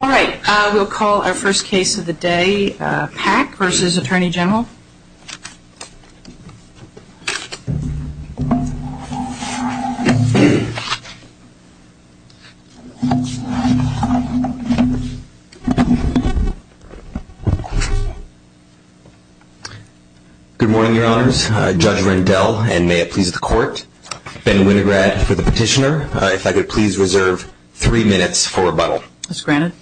All right, we'll call our first case of the day, Pack v. Attorney General. Good morning, Your Honors. Judge Rendell, and may it please the Court. Ben Winograd for the petitioner. If I could please reserve three minutes for rebuttal. As granted.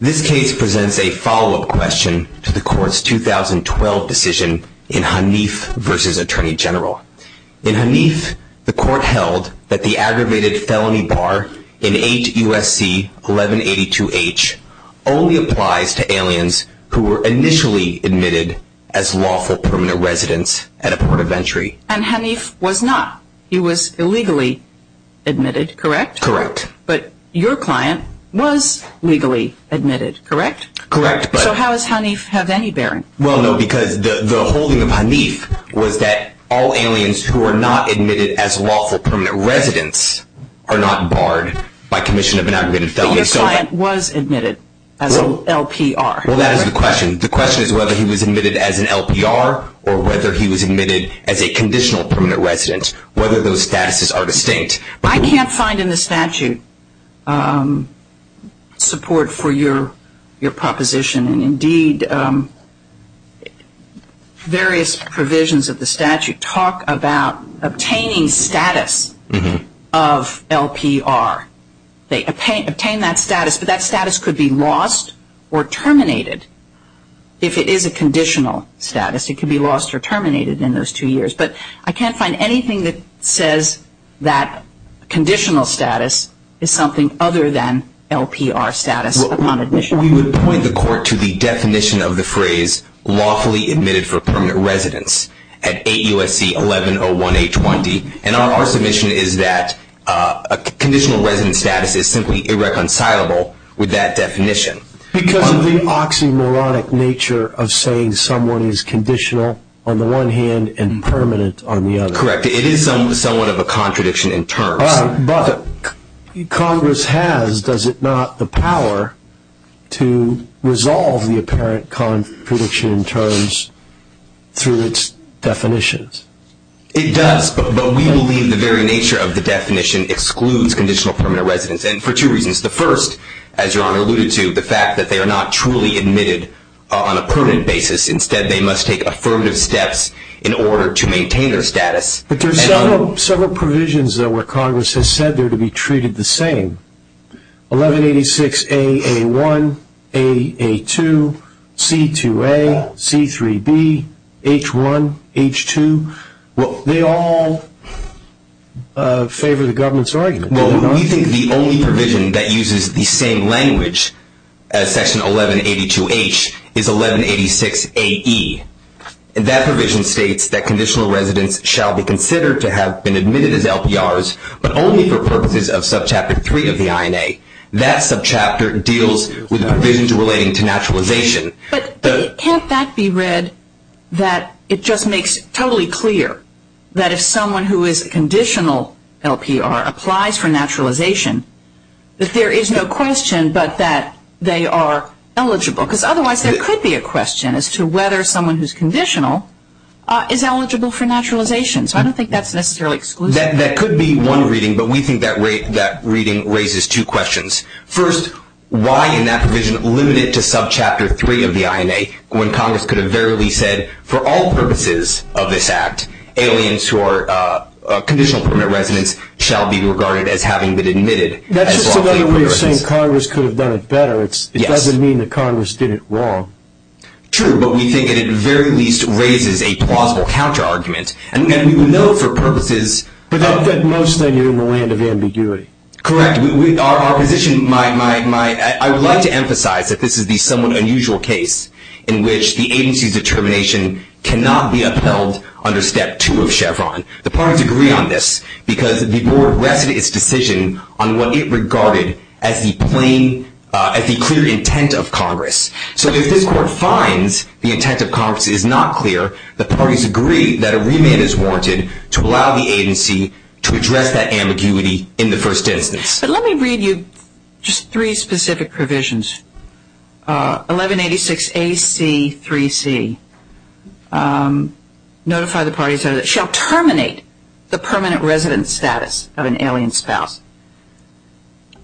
This case presents a follow-up question to the Court's 2012 decision in Hanif v. Attorney General. In Hanif, the Court held that the aggravated felony bar in H. U.S.C. 1182-H only applies to aliens who were initially admitted as lawful permanent residents at a port of entry. And Hanif was not. He was illegally admitted, correct? Correct. But your client was legally admitted, correct? Correct. So how does Hanif have any bearing? Well, no, because the holding of Hanif was that all aliens who are not admitted as lawful permanent residents are not barred by commission of an aggravated felony. But your client was admitted as an LPR. Well, that is the question. The question is whether he was admitted as an LPR or whether he was admitted as a conditional permanent resident, whether those statuses are distinct. I can't find in the statute support for your proposition. And indeed, various provisions of the statute talk about obtaining status of LPR. They obtain that status, but that status could be lost or terminated if it is a conditional status. It could be lost or terminated in those two years. But I can't find anything that says that conditional status is something other than LPR status upon admission. We would point the court to the definition of the phrase lawfully admitted for permanent residence at 8 U.S.C. 11-01-820. And our submission is that conditional resident status is simply irreconcilable with that definition. Because of the oxymoronic nature of saying someone is conditional on the one hand and permanent on the other. Correct. It is somewhat of a contradiction in terms. But Congress has, does it not, the power to resolve the apparent contradiction in terms through its definitions? It does, but we believe the very nature of the definition excludes conditional permanent residence, and for two reasons. The first, as Your Honor alluded to, the fact that they are not truly admitted on a permanent basis. Instead, they must take affirmative steps in order to maintain their status. But there are several provisions, though, where Congress has said they are to be treated the same. 1186-AA1, AA2, C2A, C3B, H1, H2. They all favor the government's argument. Well, we think the only provision that uses the same language as Section 1182-H is 1186-AE. That provision states that conditional residents shall be considered to have been admitted as LPRs, but only for purposes of Subchapter 3 of the INA. That subchapter deals with provisions relating to naturalization. But can't that be read that it just makes totally clear that if someone who is a conditional LPR applies for naturalization, that there is no question but that they are eligible? Because otherwise there could be a question as to whether someone who is conditional is eligible for naturalization. So I don't think that's necessarily exclusive. That could be one reading, but we think that reading raises two questions. First, why in that provision limited to Subchapter 3 of the INA, when Congress could have verily said, for all purposes of this Act, aliens who are conditional permit residents shall be regarded as having been admitted as LPRs? That's just another way of saying Congress could have done it better. It doesn't mean that Congress did it wrong. True, but we think that it very least raises a plausible counter-argument. And we know for purposes... But most of the time you're in the land of ambiguity. Correct. Our position might... I would like to emphasize that this is the somewhat unusual case in which the agency's determination cannot be upheld under Step 2 of Chevron. The parties agree on this because the Board rested its decision on what it regarded as the clear intent of Congress. So if this Court finds the intent of Congress is not clear, the parties agree that a remand is warranted to allow the agency to address that ambiguity in the first instance. But let me read you just three specific provisions. 1186AC3C, notify the parties that shall terminate the permanent resident status of an alien spouse.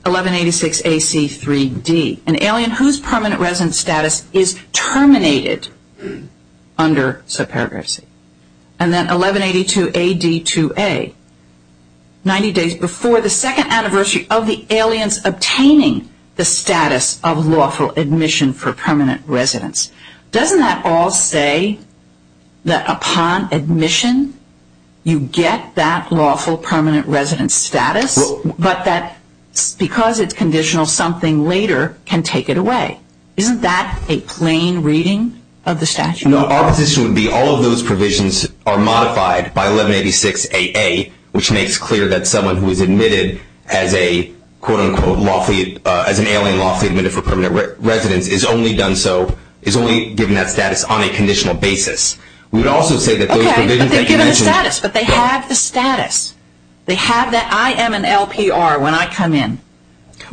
1186AC3D, an alien whose permanent resident status is terminated under subparagraph C. And then 1182AD2A, 90 days before the second anniversary of the aliens obtaining the status of lawful admission for permanent residence. Doesn't that all say that upon admission you get that lawful permanent resident status, but that because it's conditional something later can take it away? Isn't that a plain reading of the statute? No, our position would be all of those provisions are modified by 1186AA, which makes clear that someone who is admitted as an alien lawfully admitted for permanent residence is only given that status on a conditional basis. Okay, but they're given the status, but they have the status. They have that I am an LPR when I come in,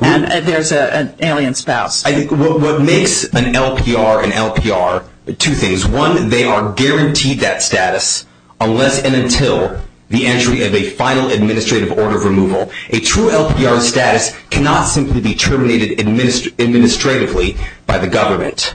and there's an alien spouse. I think what makes an LPR an LPR are two things. One, they are guaranteed that status unless and until the entry of a final administrative order of removal. A true LPR status cannot simply be terminated administratively by the government,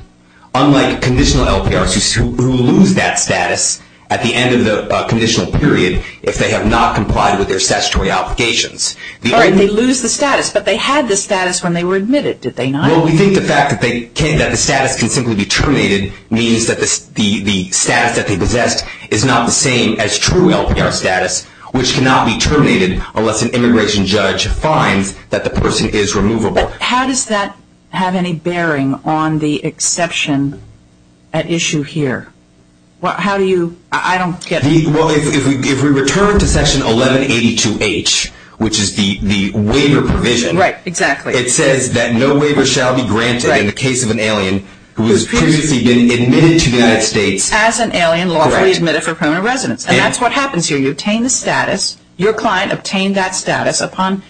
unlike conditional LPRs who lose that status at the end of the conditional period if they have not complied with their statutory obligations. All right, they lose the status, but they had the status when they were admitted, did they not? Well, we think the fact that the status can simply be terminated means that the status that they possessed is not the same as true LPR status, which cannot be terminated unless an immigration judge finds that the person is removable. How does that have any bearing on the exception at issue here? How do you, I don't get it. Well, if we return to section 1182H, which is the waiver provision. Right, exactly. It says that no waiver shall be granted in the case of an alien who has previously been admitted to the United States. As an alien, lawfully admitted for permanent residence, and that's what happens here. You obtain the status, your client obtained that status upon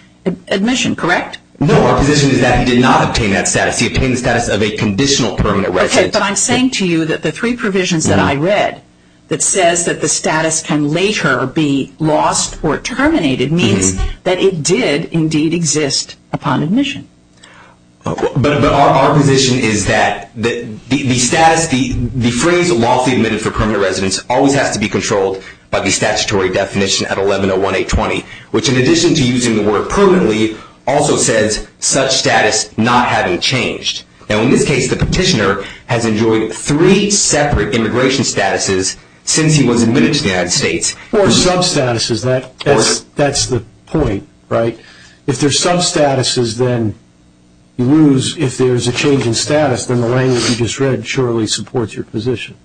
admission, correct? No, our position is that he did not obtain that status. He obtained the status of a conditional permanent residence. Okay, but I'm saying to you that the three provisions that I read that says that the status can later be lost or terminated means that it did indeed exist upon admission. But our position is that the status, the phrase lawfully admitted for permanent residence, always has to be controlled by the statutory definition at 1101820, which in addition to using the word permanently also says such status not having changed. Now in this case, the petitioner has enjoyed three separate immigration statuses since he was admitted to the United States. Or substatuses, that's the point, right? If there's substatuses, then you lose. If there's a change in status, then the language you just read surely supports your position.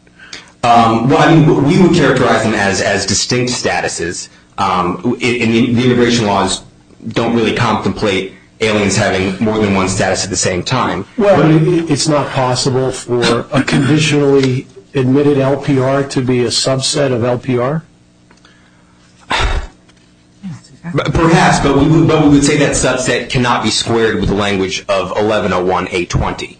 Well, I mean, we would characterize them as distinct statuses. The immigration laws don't really contemplate aliens having more than one status at the same time. Well, it's not possible for a conditionally admitted LPR to be a subset of LPR? Perhaps, but we would say that subset cannot be squared with the language of 1101820.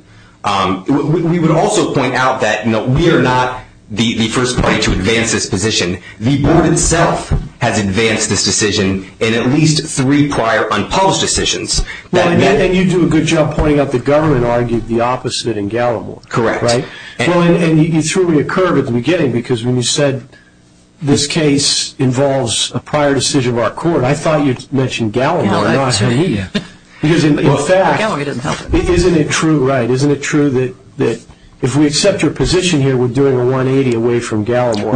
We would also point out that we are not the first party to advance this position. The board itself has advanced this decision in at least three prior unpublished decisions. Well, and you do a good job pointing out the government argued the opposite in Gallimore. Correct. And you threw me a curve at the beginning because when you said this case involves a prior decision of our court, I thought you mentioned Gallimore, not me. Because in fact, isn't it true, right, isn't it true that if we accept your position here, we're doing a 180 away from Gallimore?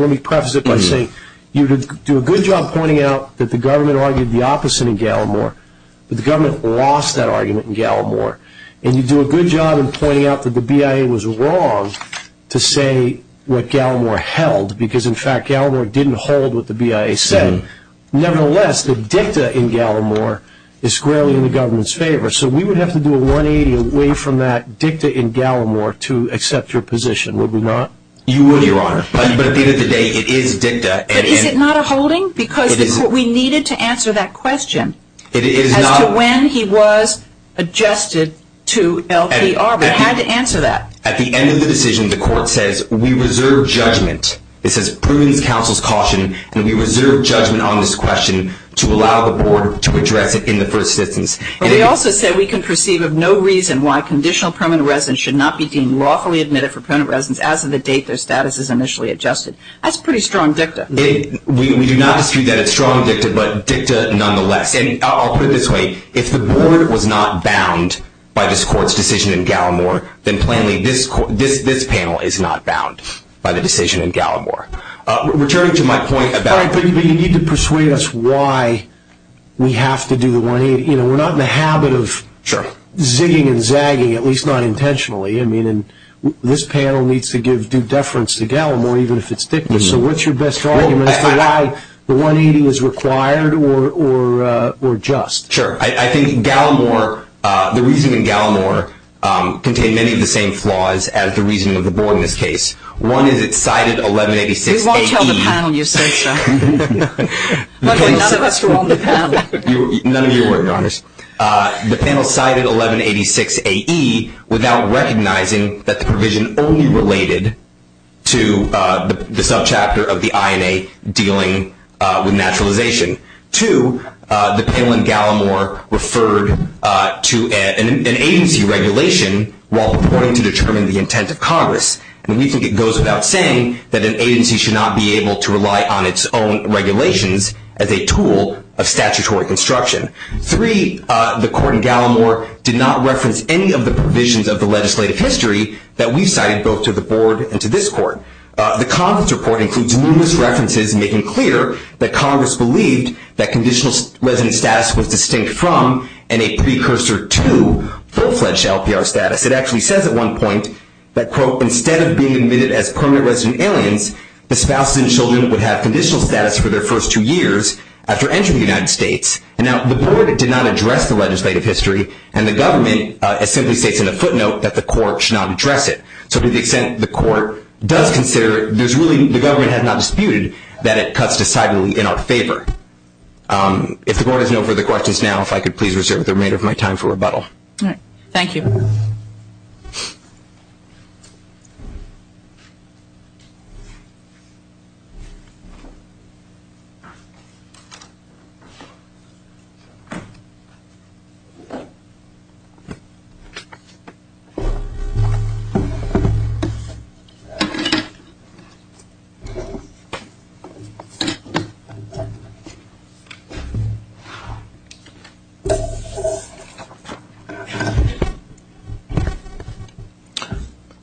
Let me preface it by saying you do a good job pointing out that the government argued the opposite in Gallimore, but the government lost that argument in Gallimore. And you do a good job in pointing out that the BIA was wrong to say what Gallimore held, because in fact Gallimore didn't hold what the BIA said. Nevertheless, the dicta in Gallimore is squarely in the government's favor. So we would have to do a 180 away from that dicta in Gallimore to accept your position, would we not? You would, Your Honor. But at the end of the day, it is dicta. But is it not a holding? Because we needed to answer that question. It is not. As to when he was adjusted to LPR. We had to answer that. At the end of the decision, the court says we reserve judgment. It says prudence, counsel's caution, and we reserve judgment on this question to allow the board to address it in the first instance. But we also said we can perceive of no reason why conditional permanent residence should not be deemed lawfully admitted for permanent residence as of the date their status is initially adjusted. That's pretty strong dicta. We do not dispute that. It's strong dicta, but dicta nonetheless. And I'll put it this way. If the board was not bound by this court's decision in Gallimore, then plainly this panel is not bound by the decision in Gallimore. Returning to my point about – All right, but you need to persuade us why we have to do the 180. We're not in the habit of zigging and zagging, at least not intentionally. This panel needs to give due deference to Gallimore, even if it's dicta. So what's your best argument as to why the 180 is required or just? Sure. I think the reasoning in Gallimore contained many of the same flaws as the reasoning of the board in this case. One is it cited 1186-18. We won't tell the panel you said so. Luckily, none of us were on the panel. None of you were, Your Honors. The panel cited 1186-AE without recognizing that the provision only related to the subchapter of the INA dealing with naturalization. Two, the panel in Gallimore referred to an agency regulation while reporting to determine the intent of Congress. We think it goes without saying that an agency should not be able to rely on its own regulations as a tool of statutory construction. Three, the court in Gallimore did not reference any of the provisions of the legislative history that we cited both to the board and to this court. The Congress report includes numerous references making clear that Congress believed that conditional resident status was distinct from and a precursor to full-fledged LPR status. It actually says at one point that, quote, instead of being admitted as permanent resident aliens, the spouses and children would have conditional status for their first two years after entering the United States. Now, the board did not address the legislative history, and the government simply states in a footnote that the court should not address it. So to the extent the court does consider it, the government has not disputed that it cuts decidedly in our favor. If the board has no further questions now, if I could please reserve the remainder of my time for rebuttal. All right, thank you.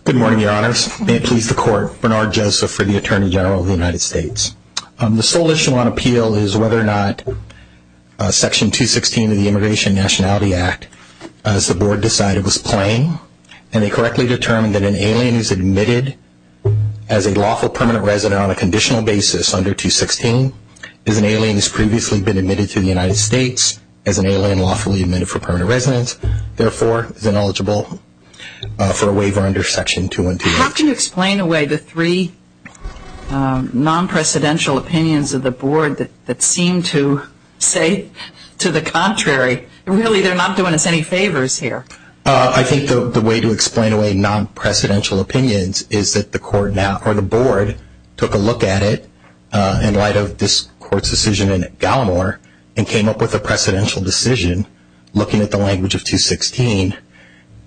Good morning, Your Honors. May it please the court, Bernard Joseph for the Attorney General of the United States. The sole issue on appeal is whether or not Section 216 of the Immigration and Nationality Act, as the board decided, was plain. And they correctly determined that an alien is admitted as a lawful permanent resident on a conditional basis under 216. An alien has previously been admitted to the United States as an alien lawfully admitted for permanent residence. Therefore, is ineligible for a waiver under Section 216. How can you explain away the three non-presidential opinions of the board that seem to say to the contrary? Really, they're not doing us any favors here. I think the way to explain away non-presidential opinions is that the board took a look at it in light of this court's decision in Gallimore and came up with a precedential decision looking at the language of 216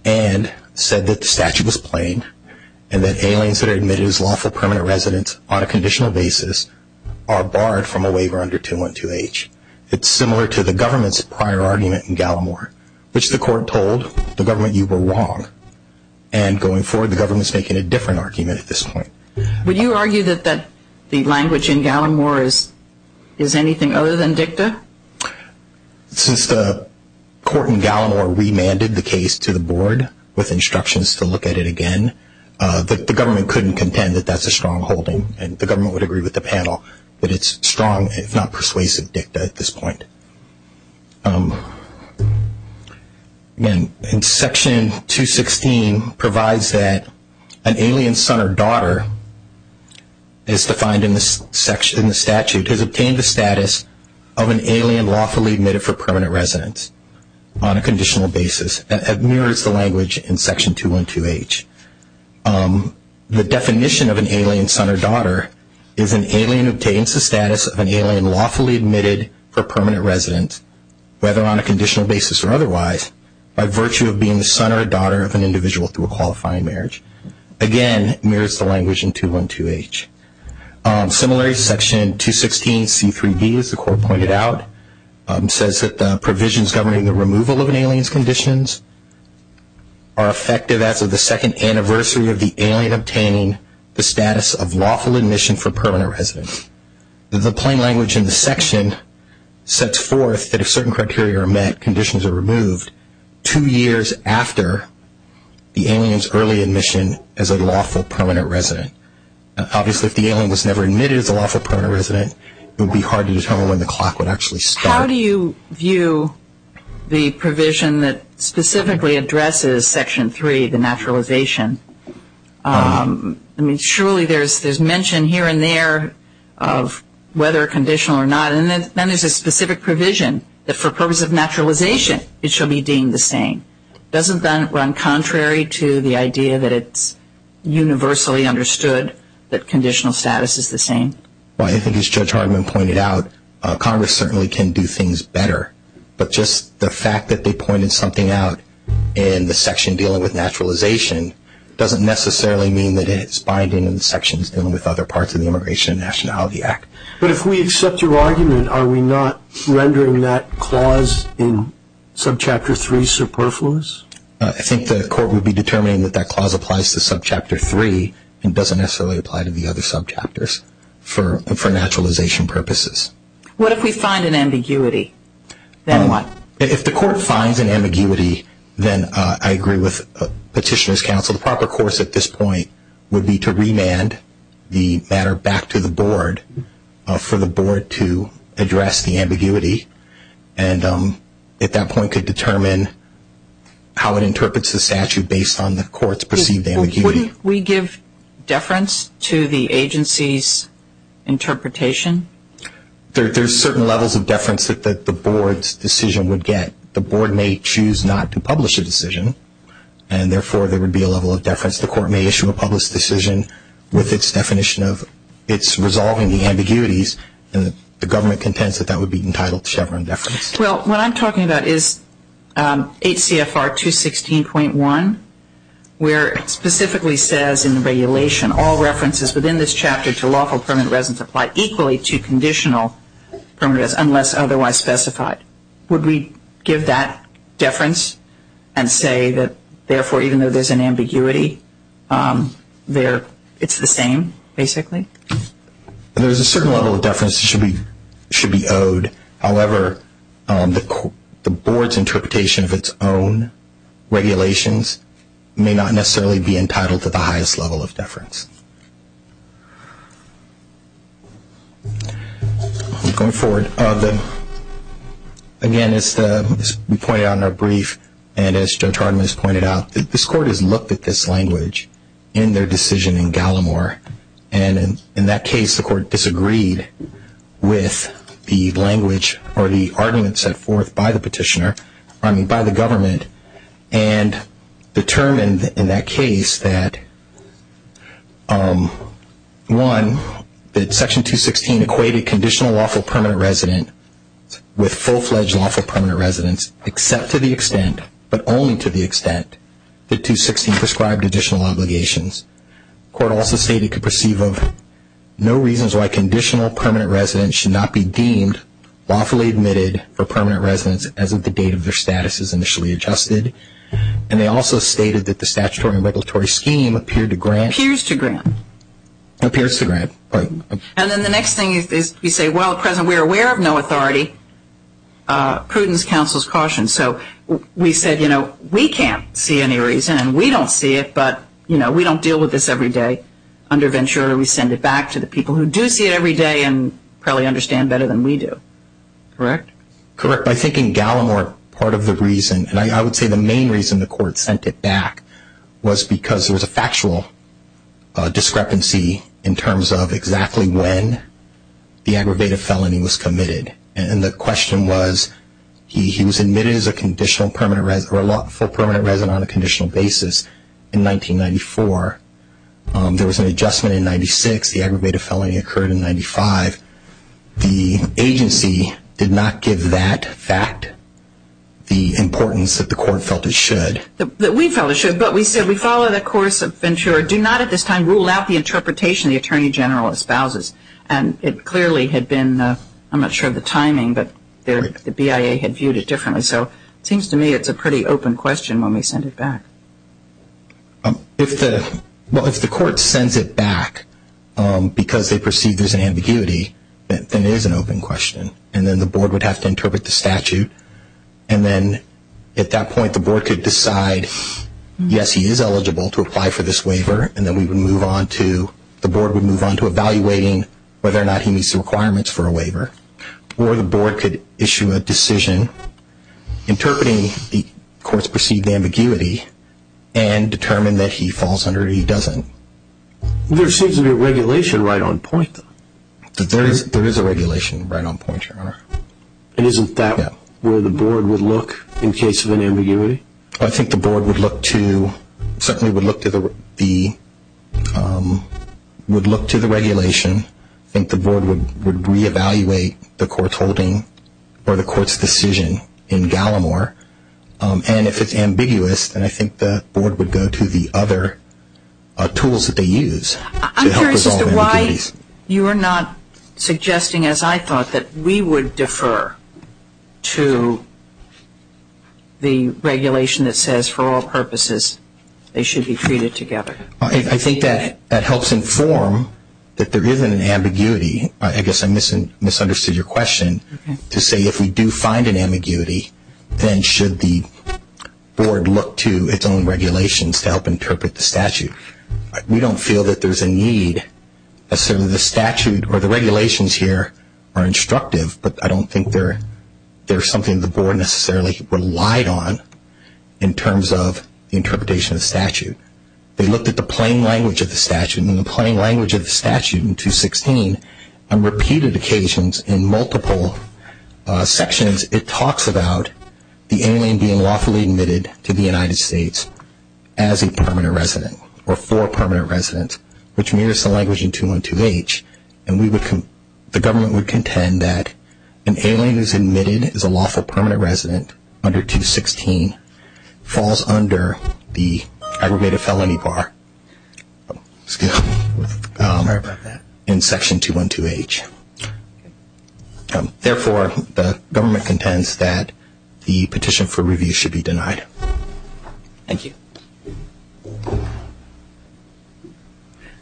and said that the statute was plain and that aliens that are admitted as lawful permanent residents on a conditional basis are barred from a waiver under 212H. It's similar to the government's prior argument in Gallimore, which the court told the government you were wrong. And going forward, the government's making a different argument at this point. Would you argue that the language in Gallimore is anything other than dicta? Since the court in Gallimore remanded the case to the board with instructions to look at it again, the government couldn't contend that that's a strongholding. And the government would agree with the panel that it's strong, if not persuasive, dicta at this point. Section 216 provides that an alien son or daughter, as defined in the statute, has obtained the status of an alien lawfully admitted for permanent residence on a conditional basis. That mirrors the language in Section 212H. The definition of an alien son or daughter is an alien obtains the status of an alien lawfully admitted for permanent residence, whether on a conditional basis or otherwise, by virtue of being the son or daughter of an individual through a qualifying marriage. Again, mirrors the language in 212H. Similarly, Section 216C3D, as the court pointed out, says that provisions governing the removal of an alien's conditions are effective as of the second anniversary of the alien obtaining the status of lawful admission for permanent residence. The plain language in the section sets forth that if certain criteria are met, conditions are removed two years after the alien's early admission as a lawful permanent resident. Obviously, if the alien was never admitted as a lawful permanent resident, it would be hard to determine when the clock would actually start. How do you view the provision that specifically addresses Section 3, the naturalization? I mean, surely there's mention here and there of whether conditional or not, and then there's a specific provision that for purpose of naturalization it shall be deemed the same. Doesn't that run contrary to the idea that it's universally understood that conditional status is the same? Well, I think as Judge Hartman pointed out, Congress certainly can do things better. But just the fact that they pointed something out in the section dealing with naturalization doesn't necessarily mean that it's binding in the sections dealing with other parts of the Immigration and Nationality Act. But if we accept your argument, are we not rendering that clause in Subchapter 3 superfluous? I think the court would be determining that that clause applies to Subchapter 3 and doesn't necessarily apply to the other subchapters for naturalization purposes. What if we find an ambiguity? Then what? If the court finds an ambiguity, then I agree with Petitioner's counsel. The proper course at this point would be to remand the matter back to the board for the board to address the ambiguity and at that point could determine how it interprets the statute based on the court's perceived ambiguity. Wouldn't we give deference to the agency's interpretation? There's certain levels of deference that the board's decision would get. The board may choose not to publish a decision and therefore there would be a level of deference. The court may issue a published decision with its definition of its resolving the ambiguities and the government contends that that would be entitled to Chevron deference. Well, what I'm talking about is HCFR 216.1 where it specifically says in the regulation all references within this chapter to lawful permanent residence apply equally to conditional permanent residence unless otherwise specified. Would we give that deference and say that therefore even though there's an ambiguity, it's the same basically? There's a certain level of deference that should be owed. However, the board's interpretation of its own regulations may not necessarily be entitled to the highest level of deference. Again, as we pointed out in our brief and as Joe Tardiman has pointed out, this court has looked at this language in their decision in Gallimore and in that case the court disagreed with the language or the argument set forth by the petitioner, I mean by the government and determined in that case that one, that section 216 equated conditional lawful permanent residence with full-fledged lawful permanent residence except to the extent, but only to the extent, that 216 prescribed additional obligations. The court also stated it could perceive of no reasons why conditional permanent residence should not be deemed lawfully admitted for permanent residence as of the date of their status is initially adjusted. And they also stated that the statutory and regulatory scheme appeared to grant. Appears to grant. Appears to grant. And then the next thing is we say, well, President, we're aware of no authority. Prudence counsels caution. So we said, you know, we can't see any reason and we don't see it, but, you know, we don't deal with this every day. Under Ventura we send it back to the people who do see it every day and probably understand better than we do. Correct? Correct. I think in Gallimore part of the reason, and I would say the main reason the court sent it back, was because there was a factual discrepancy in terms of exactly when the aggravated felony was committed. And the question was he was admitted as a conditional permanent or lawful permanent resident on a conditional basis in 1994. There was an adjustment in 96. The aggravated felony occurred in 95. The agency did not give that fact the importance that the court felt it should. That we felt it should, but we said we follow the course of Ventura. Do not at this time rule out the interpretation the Attorney General espouses. And it clearly had been, I'm not sure of the timing, but the BIA had viewed it differently. So it seems to me it's a pretty open question when we send it back. If the court sends it back because they perceive there's an ambiguity, then it is an open question. And then the board would have to interpret the statute. And then at that point the board could decide, yes, he is eligible to apply for this waiver. And then the board would move on to evaluating whether or not he meets the requirements for a waiver. Or the board could issue a decision interpreting the court's perceived ambiguity and determine that he falls under it or he doesn't. There seems to be a regulation right on point. There is a regulation right on point, Your Honor. And isn't that where the board would look in case of an ambiguity? I think the board would look to, certainly would look to the regulation. I think the board would reevaluate the court's holding or the court's decision in Gallimore. And if it's ambiguous, then I think the board would go to the other tools that they use. I'm curious as to why you are not suggesting, as I thought, that we would defer to the regulation that says for all purposes they should be treated together. I think that helps inform that there is an ambiguity. I guess I misunderstood your question to say if we do find an ambiguity, then should the board look to its own regulations to help interpret the statute? We don't feel that there is a need. Certainly the statute or the regulations here are instructive, but I don't think they are something the board necessarily relied on in terms of the interpretation of the statute. They looked at the plain language of the statute. In the plain language of the statute in 216 on repeated occasions in multiple sections, it talks about the alien being lawfully admitted to the United States as a permanent resident or for a permanent resident, which mirrors the language in 212H, and the government would contend that an alien who is admitted as a lawful permanent resident under 216 falls under the aggregated felony bar in section 212H. Therefore, the government contends that the petition for review should be denied. Thank you.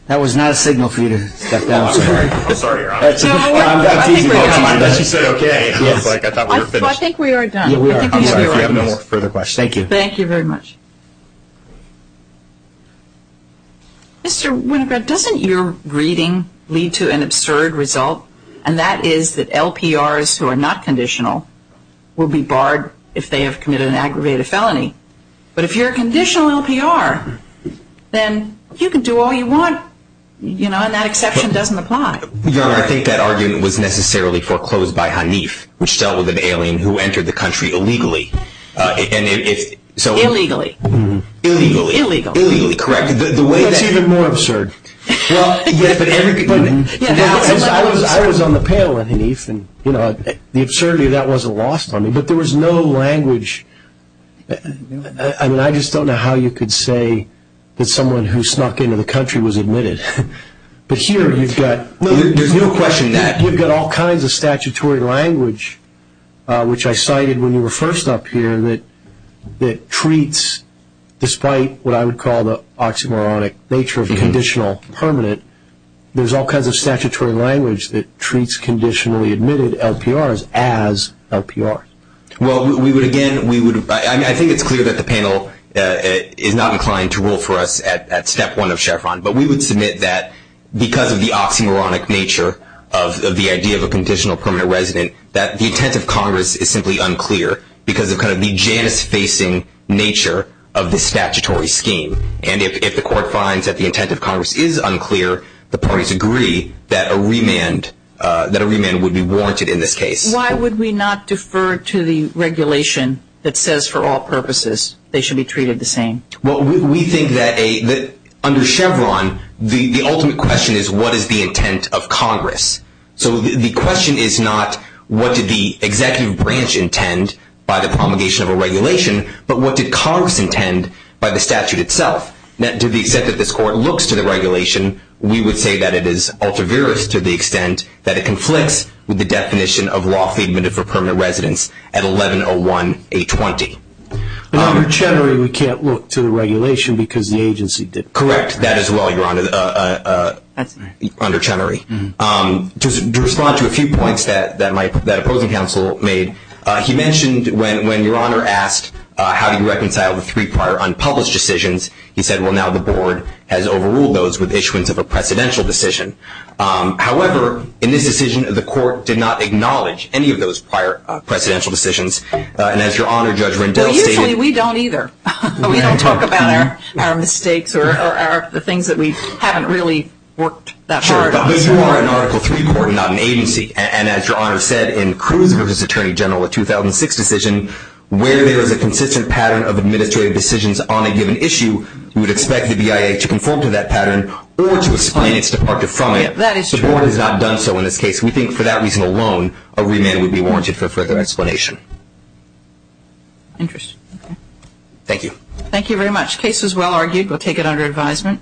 That was not a signal for you to step down, sir. I'm sorry, Your Honor. That's easy for you to say. I thought you said okay. I thought we were finished. I think we are done. I'm sorry if you have no further questions. Thank you. Thank you very much. Mr. Winograd, doesn't your reading lead to an absurd result, and that is that LPRs who are not conditional will be barred if they have committed an aggravated felony? But if you're a conditional LPR, then you can do all you want, you know, and that exception doesn't apply. Your Honor, I think that argument was necessarily foreclosed by Hanif, which dealt with an alien who entered the country illegally. Illegally. Illegally. That's even more absurd. I was on the panel with Hanif, and, you know, the absurdity of that wasn't lost on me. But there was no language. I mean, I just don't know how you could say that someone who snuck into the country was admitted. But here you've got all kinds of statutory language, which I cited when you were first up here, that treats, despite what I would call the oxymoronic nature of conditional permanent, there's all kinds of statutory language that treats conditionally admitted LPRs as LPRs. Well, we would, again, I think it's clear that the panel is not inclined to rule for us at step one of Chevron, but we would submit that because of the oxymoronic nature of the idea of a conditional permanent resident, that the intent of Congress is simply unclear because of kind of the Janus-facing nature of the statutory scheme. And if the court finds that the intent of Congress is unclear, the parties agree that a remand would be warranted in this case. Why would we not defer to the regulation that says for all purposes they should be treated the same? Well, we think that under Chevron, the ultimate question is what is the intent of Congress? So the question is not what did the executive branch intend by the promulgation of a regulation, but what did Congress intend by the statute itself? Now, to the extent that this court looks to the regulation, we would say that it is ultra-virus to the extent that it conflicts with the definition of lawfully admitted for permanent residence at 1101-820. But under Chenery, we can't look to the regulation because the agency didn't. Correct, that as well, Your Honor, under Chenery. To respond to a few points that opposing counsel made, he mentioned when Your Honor asked how do you reconcile the three prior unpublished decisions, he said, well, now the board has overruled those with issuance of a precedential decision. However, in this decision, the court did not acknowledge any of those prior precedential decisions. And as Your Honor, Judge Rendell stated- Well, usually we don't either. We don't talk about our mistakes or the things that we haven't really worked that hard on. Sure, but you are an Article III court, not an agency. And as Your Honor said, in Cruz v. Attorney General, a 2006 decision, where there is a consistent pattern of administrative decisions on a given issue, we would expect the BIA to conform to that pattern or to explain its departure from it. That is true. The board has not done so in this case. We think for that reason alone, a remand would be warranted for further explanation. Interesting. Thank you. Thank you very much. The case was well argued. We'll take it under advisement.